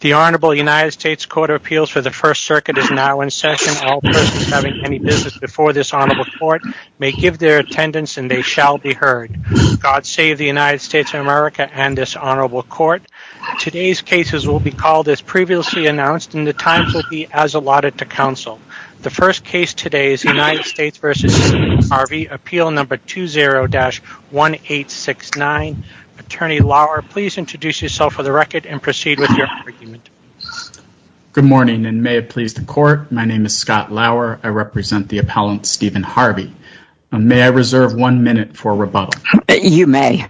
The Honorable United States Court of Appeals for the First Circuit is now in session. All persons having any business before this Honorable Court may give their attendance and they shall be heard. God save the United States of America and this Honorable Court. Today's cases will be called as previously announced and the times will be as allotted to counsel. The first case today is United States v. Stephen Harvey, appeal number 20-1869. Attorney Lauer, please introduce yourself for the record and proceed with your argument. Good morning and may it please the Court. My name is Scott Lauer. I represent the appellant Stephen Harvey. May I reserve one minute for rebuttal? You may.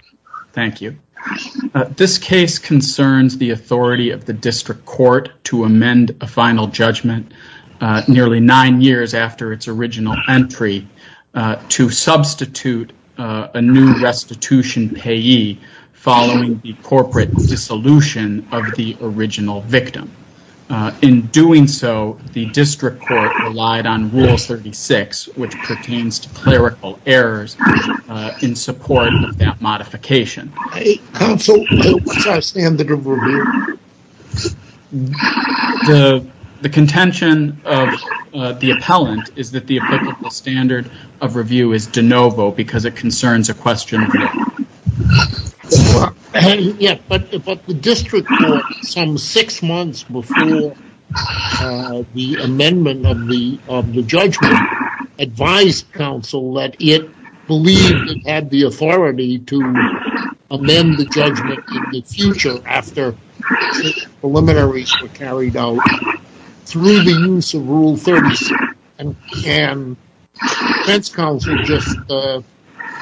Thank you. This case concerns the authority of the district court to amend a final judgment nearly nine years after its original entry to substitute a new restitution payee following the corporate dissolution of the original victim. In doing so, the district court relied on Rule 36, which pertains to clerical errors, in support of that modification. Counsel, what's our standard of review? The contention of the appellant is that the applicable standard of review is de novo because it concerns a question of... But the district court, some six months before the amendment of the judgment, advised counsel that it believed it had the authority to amend the judgment in the future after preliminaries were carried out through the use of Rule 36. Can defense counsel just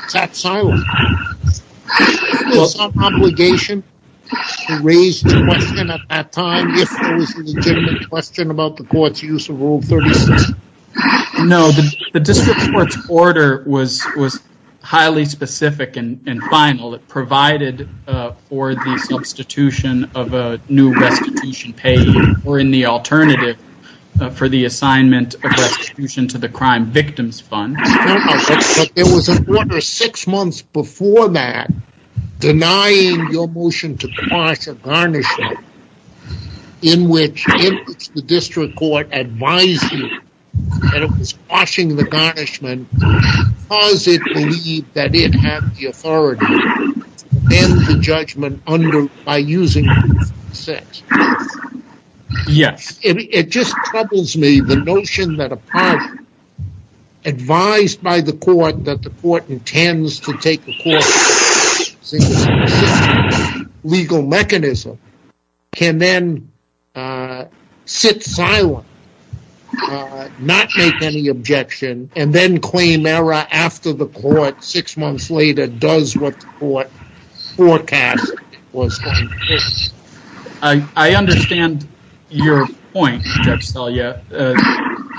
tap silent? Is there some obligation to raise the question at that time if there was a legitimate question about the court's use of Rule 36? No, the district court's order was highly specific and final. It provided for the substitution of a new restitution payee, or in the alternative, for the assignment of restitution to the crime victims fund. But there was an order six months before that denying your motion to quash a garnishment in which the district court advised you that it was quashing the garnishment because it believed that it had the authority to amend the judgment by using Rule 36. Yes. It just troubles me the notion that a party advised by the court that the court intends to take the court's legal mechanism can then sit silent, not make any objection, and then claim error after the court, six months later, does what the court forecast was going to do. I understand your point, Judge Selya.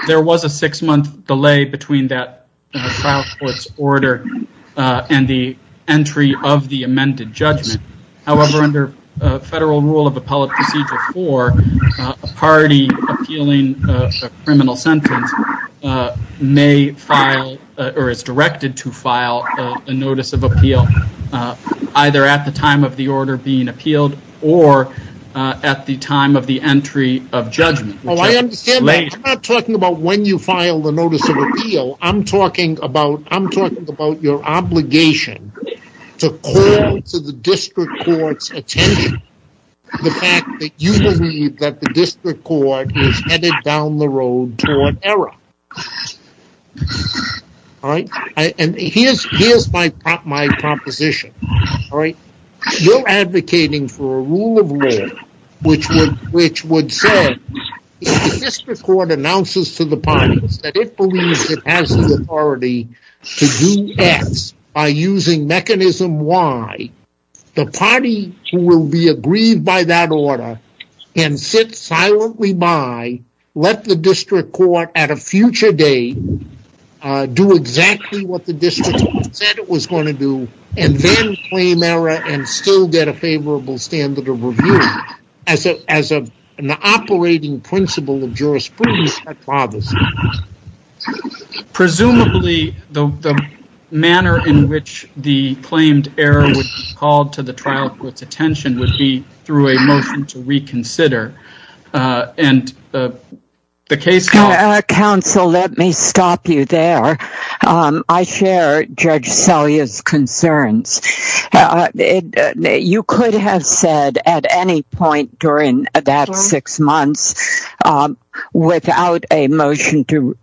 There was a six-month delay between that trial court's order and the entry of the amended judgment. However, under Federal Rule of Appellate Procedure 4, a party appealing a criminal sentence may file, or is directed to file, a notice of appeal, either at the time of the order being appealed or at the time of the entry of judgment. I'm not talking about when you file the notice of appeal. I'm talking about your obligation to call to the district court's attention the fact that you believe that the district court is headed down the road toward error. Here's my proposition. You're advocating for a rule of law which would say if the district court announces to the parties that it believes it has the authority to do X by using mechanism Y, the party who will be aggrieved by that order can sit silently by, and let the district court, at a future date, do exactly what the district court said it was going to do, and then claim error and still get a favorable standard of review as an operating principle of jurisprudence. Presumably, the manner in which the claimed error would be called to the trial court's attention would be through a motion to reconsider. Counsel, let me stop you there. I share Judge Selye's concerns. You could have said at any point during that six months, without a motion to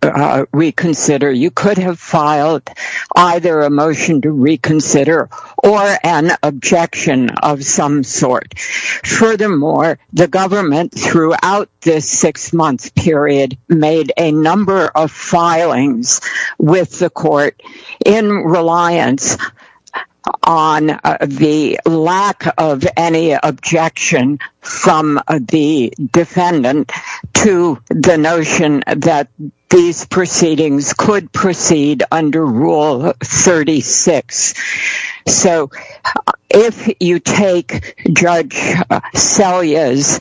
reconsider, you could have filed either a motion to reconsider or an objection of some sort. Furthermore, the government, throughout this six-month period, made a number of filings with the court in reliance on the lack of any objection from the defendant to the notion that these proceedings could proceed under Rule 36. If you take Judge Selye's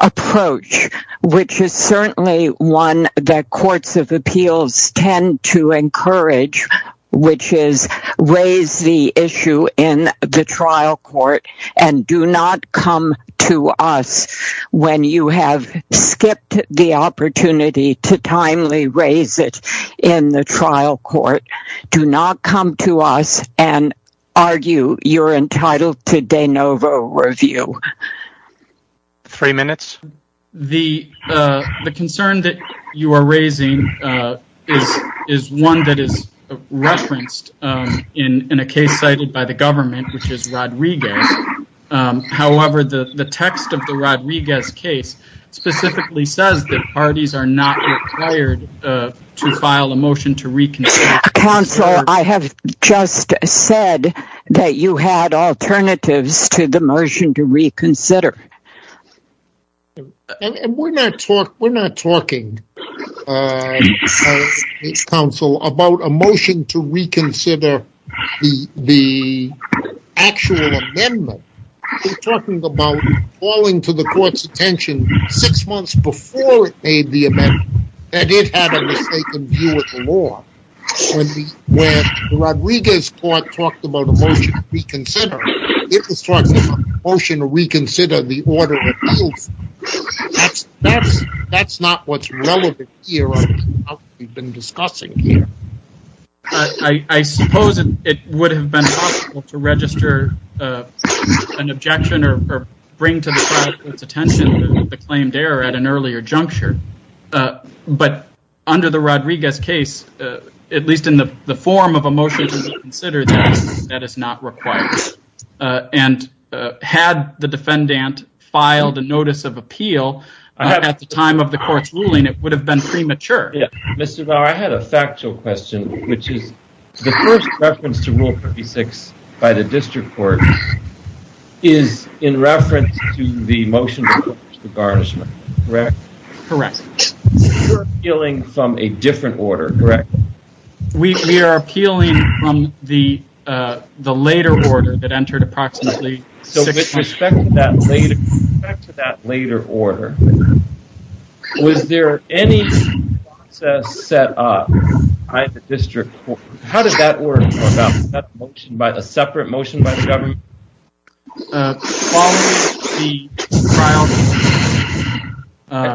approach, which is certainly one that courts of appeals tend to encourage, which is raise the issue in the trial court and do not come to us when you have skipped the opportunity to timely raise it in the trial court, do not come to us and argue you're entitled to de novo review. Three minutes. The concern that you are raising is one that is referenced in a case cited by the government, which is Rodriguez. However, the text of the Rodriguez case specifically says that parties are not required to file a motion to reconsider. Counsel, I have just said that you had alternatives to the motion to reconsider. We're not talking, counsel, about a motion to reconsider the actual amendment. We're talking about calling to the court's attention six months before it made the amendment that it had a mistaken view of the law. When the Rodriguez court talked about a motion to reconsider, it was talking about a motion to reconsider the order of appeals. That's not what's relevant here or what we've been discussing here. I suppose it would have been possible to register an objection or bring to the trial court's attention the claimed error at an earlier juncture. But under the Rodriguez case, at least in the form of a motion to reconsider, that is not required. And had the defendant filed a notice of appeal at the time of the court's ruling, it would have been premature. Mr. Bauer, I had a factual question, which is the first reference to Rule 56 by the district court is in reference to the motion to approach the garnishment, correct? Correct. We're appealing from a different order, correct? We are appealing from the later order that entered approximately six months ago. With respect to that later order, was there any process set up by the district court? How did that order come about? Was that a separate motion by the government?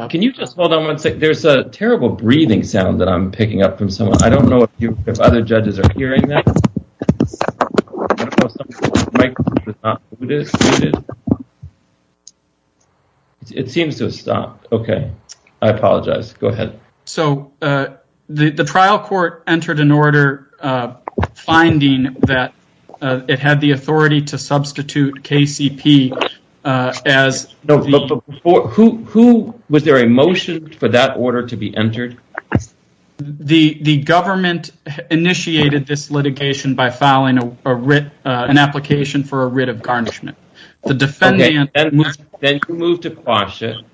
Can you just hold on one second? There's a terrible breathing sound that I'm picking up from someone. I don't know if other judges are hearing that. It seems to have stopped. OK, I apologize. Go ahead. So the trial court entered an order finding that it had the authority to substitute KCP as... Who was there a motion for that order to be entered? The government initiated this litigation by filing an application for a writ of garnishment. Then you moved to caution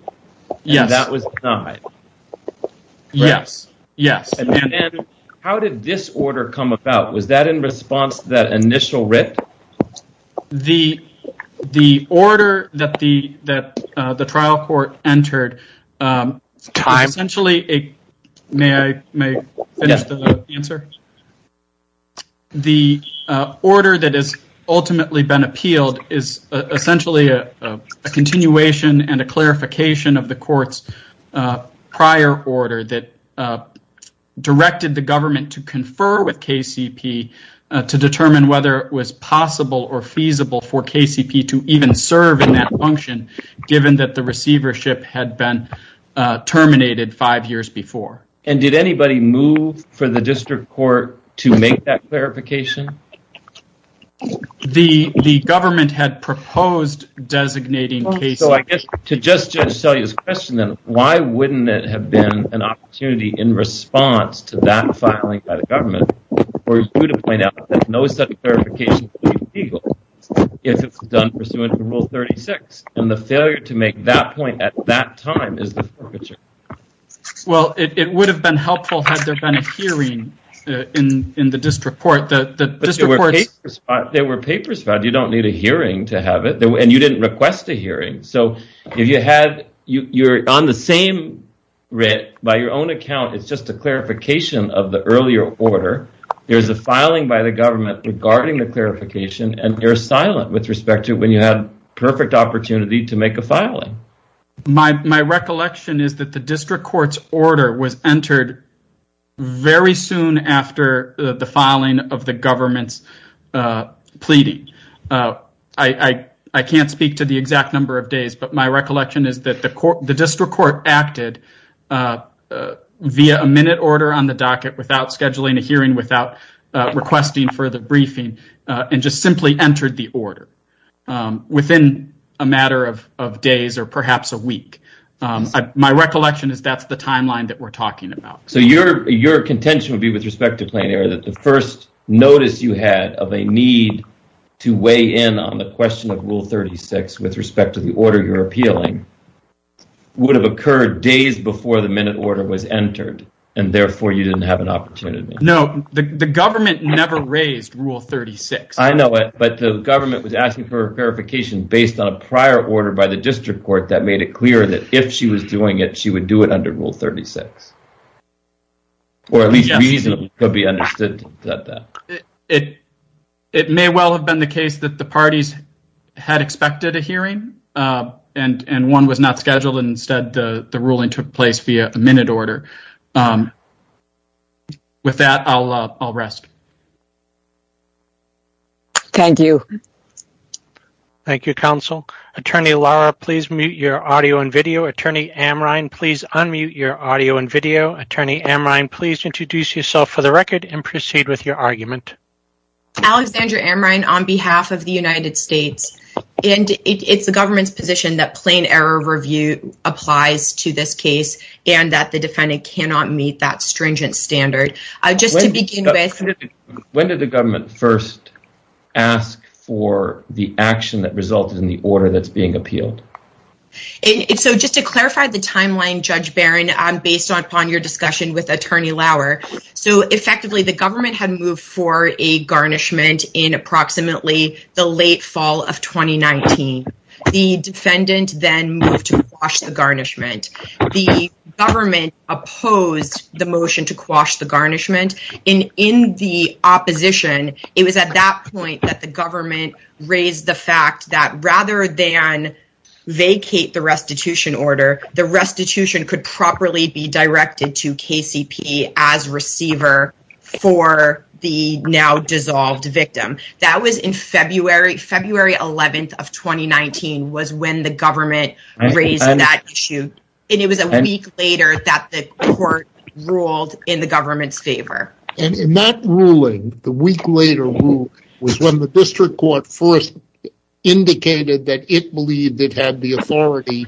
and that was denied. Yes. How did this order come about? Was that in response to that initial writ? The order that the trial court entered... Time. May I finish the answer? Yes. The order that has ultimately been appealed is essentially a continuation and a clarification of the court's prior order that directed the government to confer with KCP to determine whether it was possible or feasible for KCP to even serve in that function given that the receivership had been terminated five years before. Did anybody move for the district court to make that clarification? The government had proposed designating KCP... Why wouldn't it have been an opportunity in response to that filing by the government for you to point out that no such clarification would be legal if it was done pursuant to Rule 36? And the failure to make that point at that time is the... Well, it would have been helpful had there been a hearing in the district court. There were papers filed. You don't need a hearing to have it. And you didn't request a hearing. So if you're on the same writ, by your own account, it's just a clarification of the earlier order. There's a filing by the government regarding the clarification and you're silent with respect to when you had perfect opportunity to make a filing. My recollection is that the district court's order was entered very soon after the filing of the government's pleading. I can't speak to the exact number of days, but my recollection is that the district court acted via a minute order on the docket without scheduling a hearing, without requesting further briefing, and just simply entered the order. Within a matter of days or perhaps a week. My recollection is that's the timeline that we're talking about. So your contention would be with respect to plain error that the first notice you had of a need to weigh in on the question of Rule 36 with respect to the order you're appealing would have occurred days before the minute order was entered, and therefore you didn't have an opportunity. No, the government never raised Rule 36. I know it, but the government was asking for verification based on a prior order by the district court that made it clear that if she was doing it, she would do it under Rule 36. Or at least reasonably could be understood. It may well have been the case that the parties had expected a hearing and one was not scheduled and instead the ruling took place via a minute order. With that, I'll rest. Thank you. Thank you, Counsel. Attorney Laura, please mute your audio and video. Attorney Amrine, please unmute your audio and video. Attorney Amrine, please introduce yourself for the record and proceed with your argument. Alexandra Amrine on behalf of the United States. And it's the government's position that plain error review applies to this case and that the defendant cannot meet that stringent standard. When did the government first ask for the action that resulted in the order that's being appealed? And so just to clarify the timeline, Judge Barron, based upon your discussion with Attorney Lauer, so effectively the government had moved for a garnishment in approximately the late fall of 2019. The defendant then moved to quash the garnishment. The government opposed the motion to quash the garnishment. In the opposition, it was at that point that the government raised the fact that rather than vacate the restitution order, the restitution could properly be directed to KCP as receiver for the now dissolved victim. That was in February. February 11th of 2019 was when the government raised that issue. And it was a week later that the court ruled in the government's favor. And in that ruling, the week later rule was when the district court first indicated that it believed it had the authority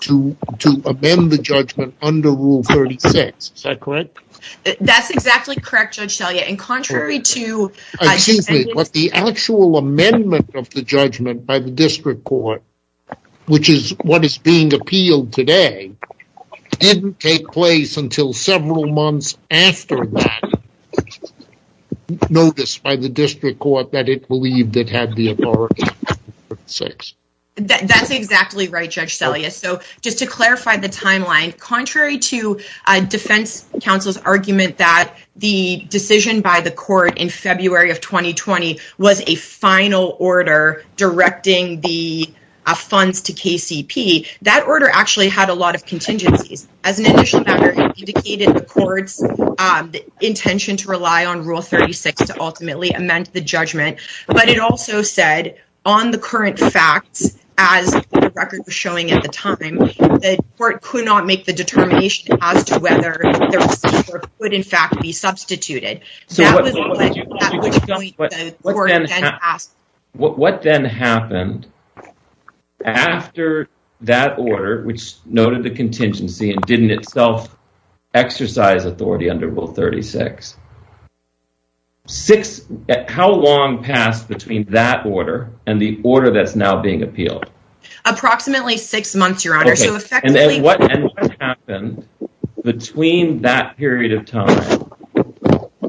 to amend the judgment under Rule 36. Is that correct? That's exactly correct, Judge Selye. Excuse me, but the actual amendment of the judgment by the district court, which is what is being appealed today, didn't take place until several months after that notice by the district court that it believed it had the authority to amend Rule 36. That's exactly right, Judge Selye. So just to clarify the timeline, contrary to defense counsel's argument that the decision by the court in February of 2020 was a final order directing the funds to KCP, that order actually had a lot of contingencies. As an initial matter, it indicated the court's intention to rely on Rule 36 to ultimately amend the judgment. But it also said on the current facts, as the record was showing at the time, the court could not make the determination as to whether the receiver could in fact be substituted. So what then happened after that order, which noted the contingency and didn't itself exercise authority under Rule 36, how long passed between that order and the order that's now being appealed? Approximately six months, Your Honor. And what happened between that period of time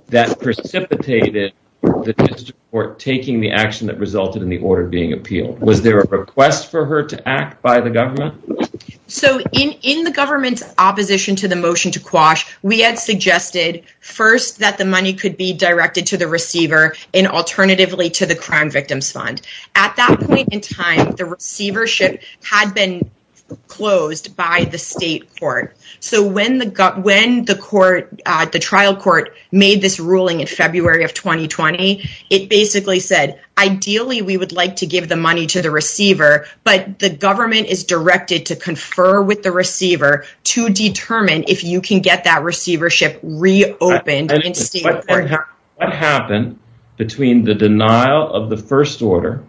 that precipitated the district court taking the action that resulted in the order being appealed? Was there a request for her to act by the government? So in the government's opposition to the motion to quash, we had suggested first that the money could be directed to the receiver and alternatively to the crime victims fund. At that point in time, the receivership had been closed by the state court. So when the trial court made this ruling in February of 2020, it basically said, ideally, we would like to give the money to the receiver, but the government is directed to confer with the receiver to determine if you can get that receivership reopened. What happened between the denial of the first order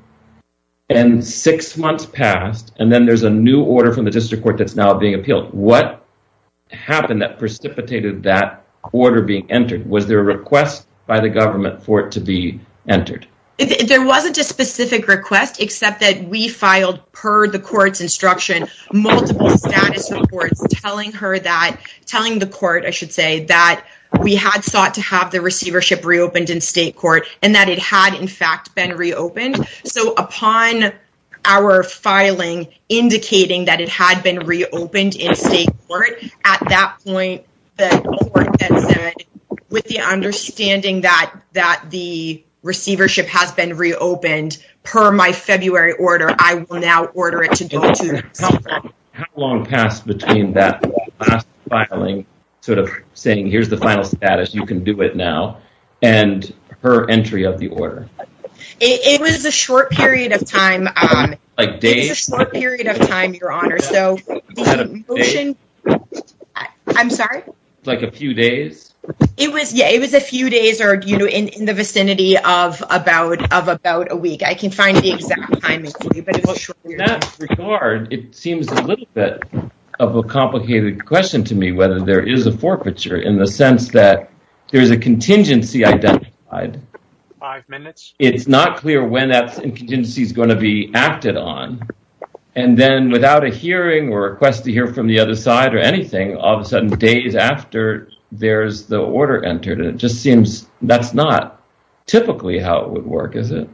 and six months passed and then there's a new order from the district court that's now being appealed? What happened that precipitated that order being entered? Was there a request by the government for it to be entered? There wasn't a specific request, except that we filed per the court's instruction, multiple status reports telling her that, telling the court, I should say, that we had sought to have the receivership reopened in state court and that it had in fact been reopened. So upon our filing indicating that it had been reopened in state court, at that point, the court then said, with the understanding that the receivership has been reopened per my February order, I will now order it to go to the consumer. How long passed between that last filing sort of saying, here's the final status, you can do it now, and her entry of the order? It was a short period of time. Like days? It was a short period of time, your honor. I'm sorry? Like a few days? It was a few days or in the vicinity of about a week. I can't find the exact time. In that regard, it seems a little bit of a complicated question to me whether there is a forfeiture in the sense that there's a contingency identified. Five minutes? It's not clear when that contingency is going to be acted on. And then without a hearing or a request to hear from the other side or anything, all of a sudden, days after there's the order entered, it just seems that's not typically how it would work, is it?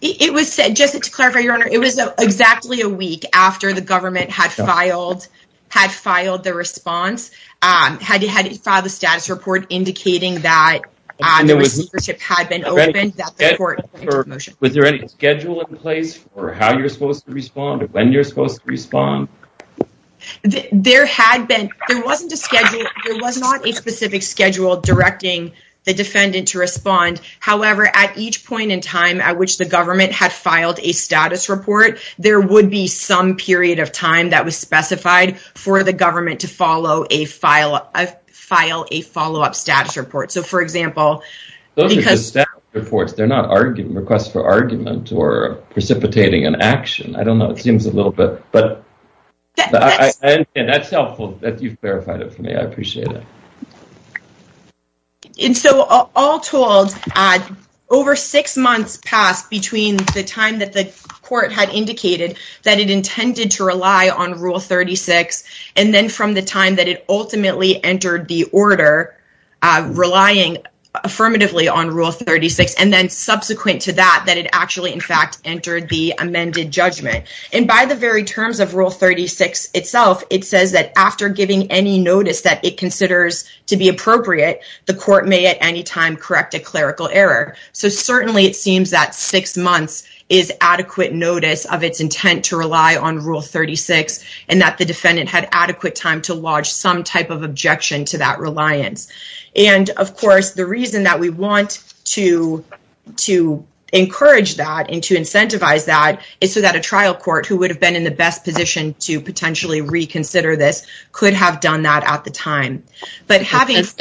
It was, just to clarify, your honor, it was exactly a week after the government had filed the response, had filed the status report indicating that the receipt had been opened. Was there any schedule in place for how you're supposed to respond or when you're supposed to respond? There was not a specific schedule directing the defendant to respond. However, at each point in time at which the government had filed a status report, there would be some period of time that was specified for the government to file a follow-up status report. Those are just status reports. They're not requests for argument or precipitating an action. I don't know. It seems a little bit, but that's helpful that you've verified it for me. I appreciate it. And so, all told, over six months passed between the time that the court had indicated that it intended to rely on Rule 36 and then from the time that it ultimately entered the order, relying affirmatively on Rule 36, and then subsequent to that, that it actually, in fact, entered the amended judgment. And by the very terms of Rule 36 itself, it says that after giving any notice that it considers to be appropriate, the court may at any time correct a clerical error. So, certainly, it seems that six months is adequate notice of its intent to rely on Rule 36 and that the defendant had adequate time to lodge some type of objection to that reliance. And, of course, the reason that we want to encourage that and to incentivize that is so that a trial court, who would have been in the best position to potentially reconsider this, could have done that at the time. But having… Ms.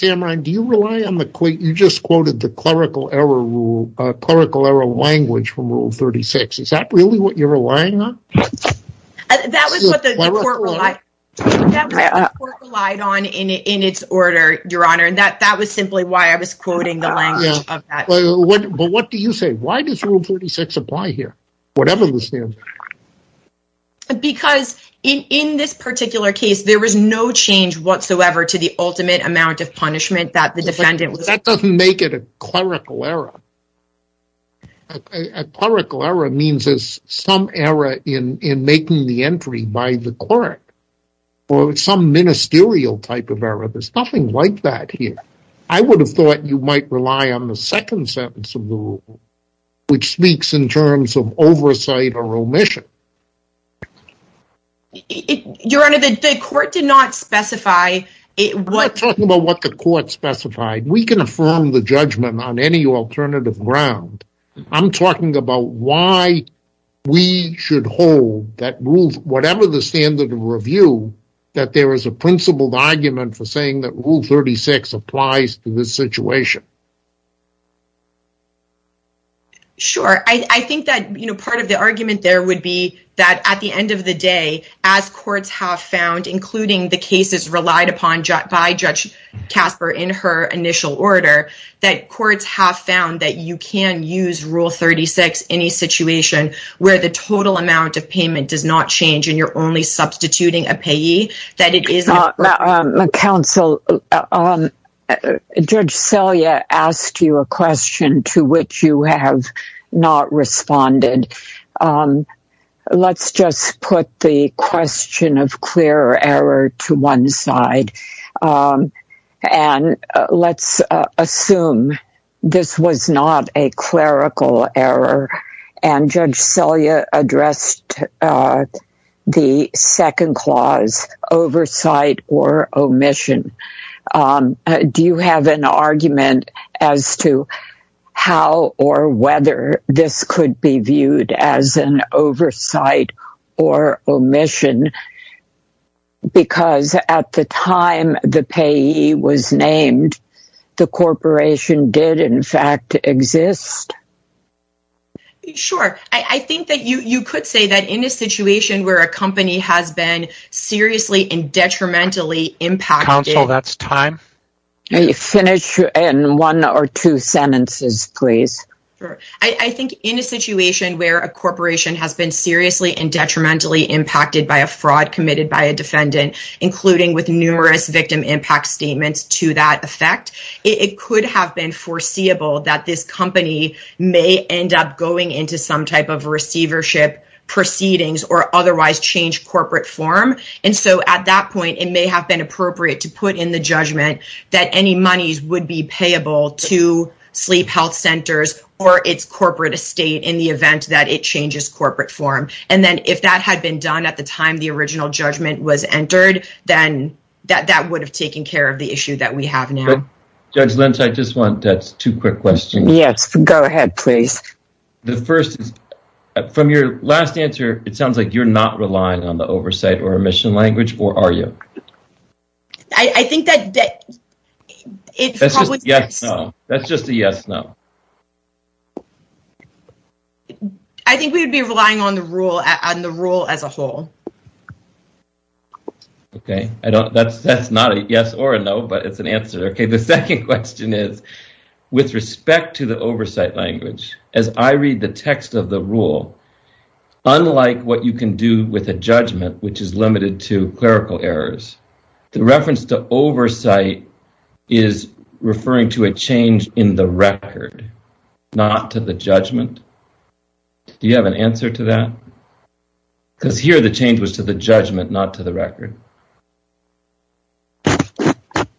Amrine, do you rely on the… You just quoted the clerical error rule, clerical error language from Rule 36. Is that really what you're relying on? That was what the court relied on in its order, Your Honor, and that was simply why I was quoting the language of that. But what do you say? Why does Rule 36 apply here, whatever the standard? Because in this particular case, there was no change whatsoever to the ultimate amount of punishment that the defendant was… in making the entry by the court for some ministerial type of error. There's nothing like that here. I would have thought you might rely on the second sentence of the rule, which speaks in terms of oversight or omission. Your Honor, the court did not specify… We're not talking about what the court specified. We can affirm the judgment on any alternative ground. I'm talking about why we should hold that rule, whatever the standard of review, that there is a principled argument for saying that Rule 36 applies to this situation. Sure. I think that part of the argument there would be that at the end of the day, as courts have found, including the cases relied upon by Judge Casper in her initial order, that courts have found that you can use Rule 36 in any situation where the total amount of payment does not change and you're only substituting a payee, that it is… Counsel, Judge Selye asked you a question to which you have not responded. Let's just put the question of clear error to one side. And let's assume this was not a clerical error and Judge Selye addressed the second clause, oversight or omission. Do you have an argument as to how or whether this could be viewed as an oversight or omission? Because at the time the payee was named, the corporation did in fact exist? Sure. I think that you could say that in a situation where a company has been seriously and detrimentally impacted… Counsel, that's time. Finish in one or two sentences, please. Sure. I think in a situation where a corporation has been seriously and detrimentally impacted by a fraud committed by a defendant, including with numerous victim impact statements to that effect, it could have been foreseeable that this company may end up going into some type of receivership proceedings or otherwise change corporate form. And so at that point, it may have been appropriate to put in the judgment that any monies would be payable to sleep health centers or its corporate estate in the event that it changes corporate form. And then if that had been done at the time the original judgment was entered, then that would have taken care of the issue that we have now. Judge Lynch, I just want two quick questions. Yes, go ahead, please. The first is, from your last answer, it sounds like you're not relying on the oversight or admission language, or are you? I think that… That's just a yes, no. I think we would be relying on the rule as a whole. Okay. That's not a yes or a no, but it's an answer. The second question is, with respect to the oversight language, as I read the text of the rule, unlike what you can do with a judgment, which is limited to clerical errors, the reference to oversight is referring to a change in the record, not to the judgment. Do you have an answer to that? Because here the change was to the judgment, not to the record.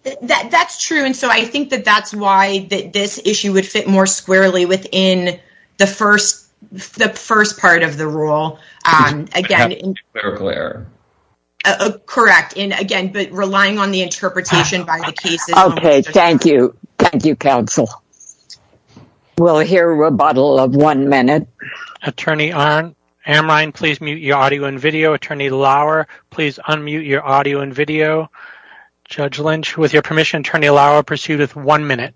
That's true. And so I think that that's why this issue would fit more squarely within the first part of the rule. Again… Clerical error. Correct. And, again, relying on the interpretation by the cases… Okay. Thank you. Thank you, counsel. We'll hear a rebuttal of one minute. Attorney Arndt, Hermine, please mute your audio and video. Attorney Lauer, please unmute your audio and video. Judge Lynch, with your permission, Attorney Lauer pursueth one minute.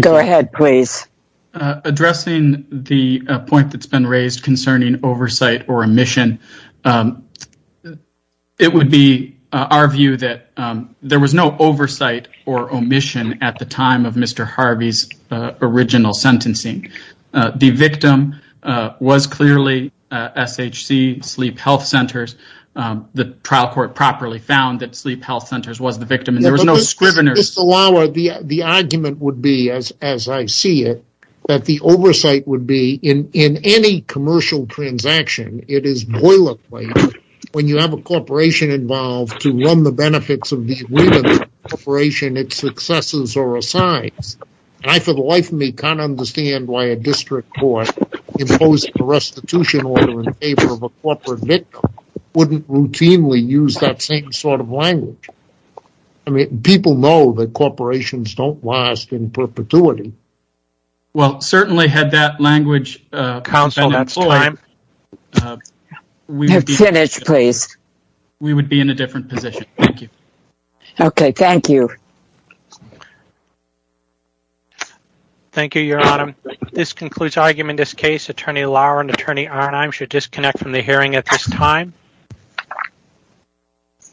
Go ahead, please. Addressing the point that's been raised concerning oversight or omission, it would be our view that there was no oversight or omission at the time of Mr. Harvey's original sentencing. The victim was clearly SHC, Sleep Health Centers. The trial court properly found that Sleep Health Centers was the victim, and there was no scrivener… Mr. Lauer, the argument would be, as I see it, that the oversight would be in any commercial transaction, it is boilerplate when you have a corporation involved to run the benefits of the women's corporation, its successes are assigned. And I, for the life of me, can't understand why a district court imposed a restitution order in favor of a corporate victim wouldn't routinely use that same sort of language. I mean, people know that corporations don't last in perpetuity. Well, certainly had that language been employed… Counsel, that's time. We would be… Finish, please. We would be in a different position. Thank you. Okay. Thank you. Thank you, Your Honor. This concludes argument in this case. Attorney Lauer and Attorney Arnheim should disconnect from the hearing at this time.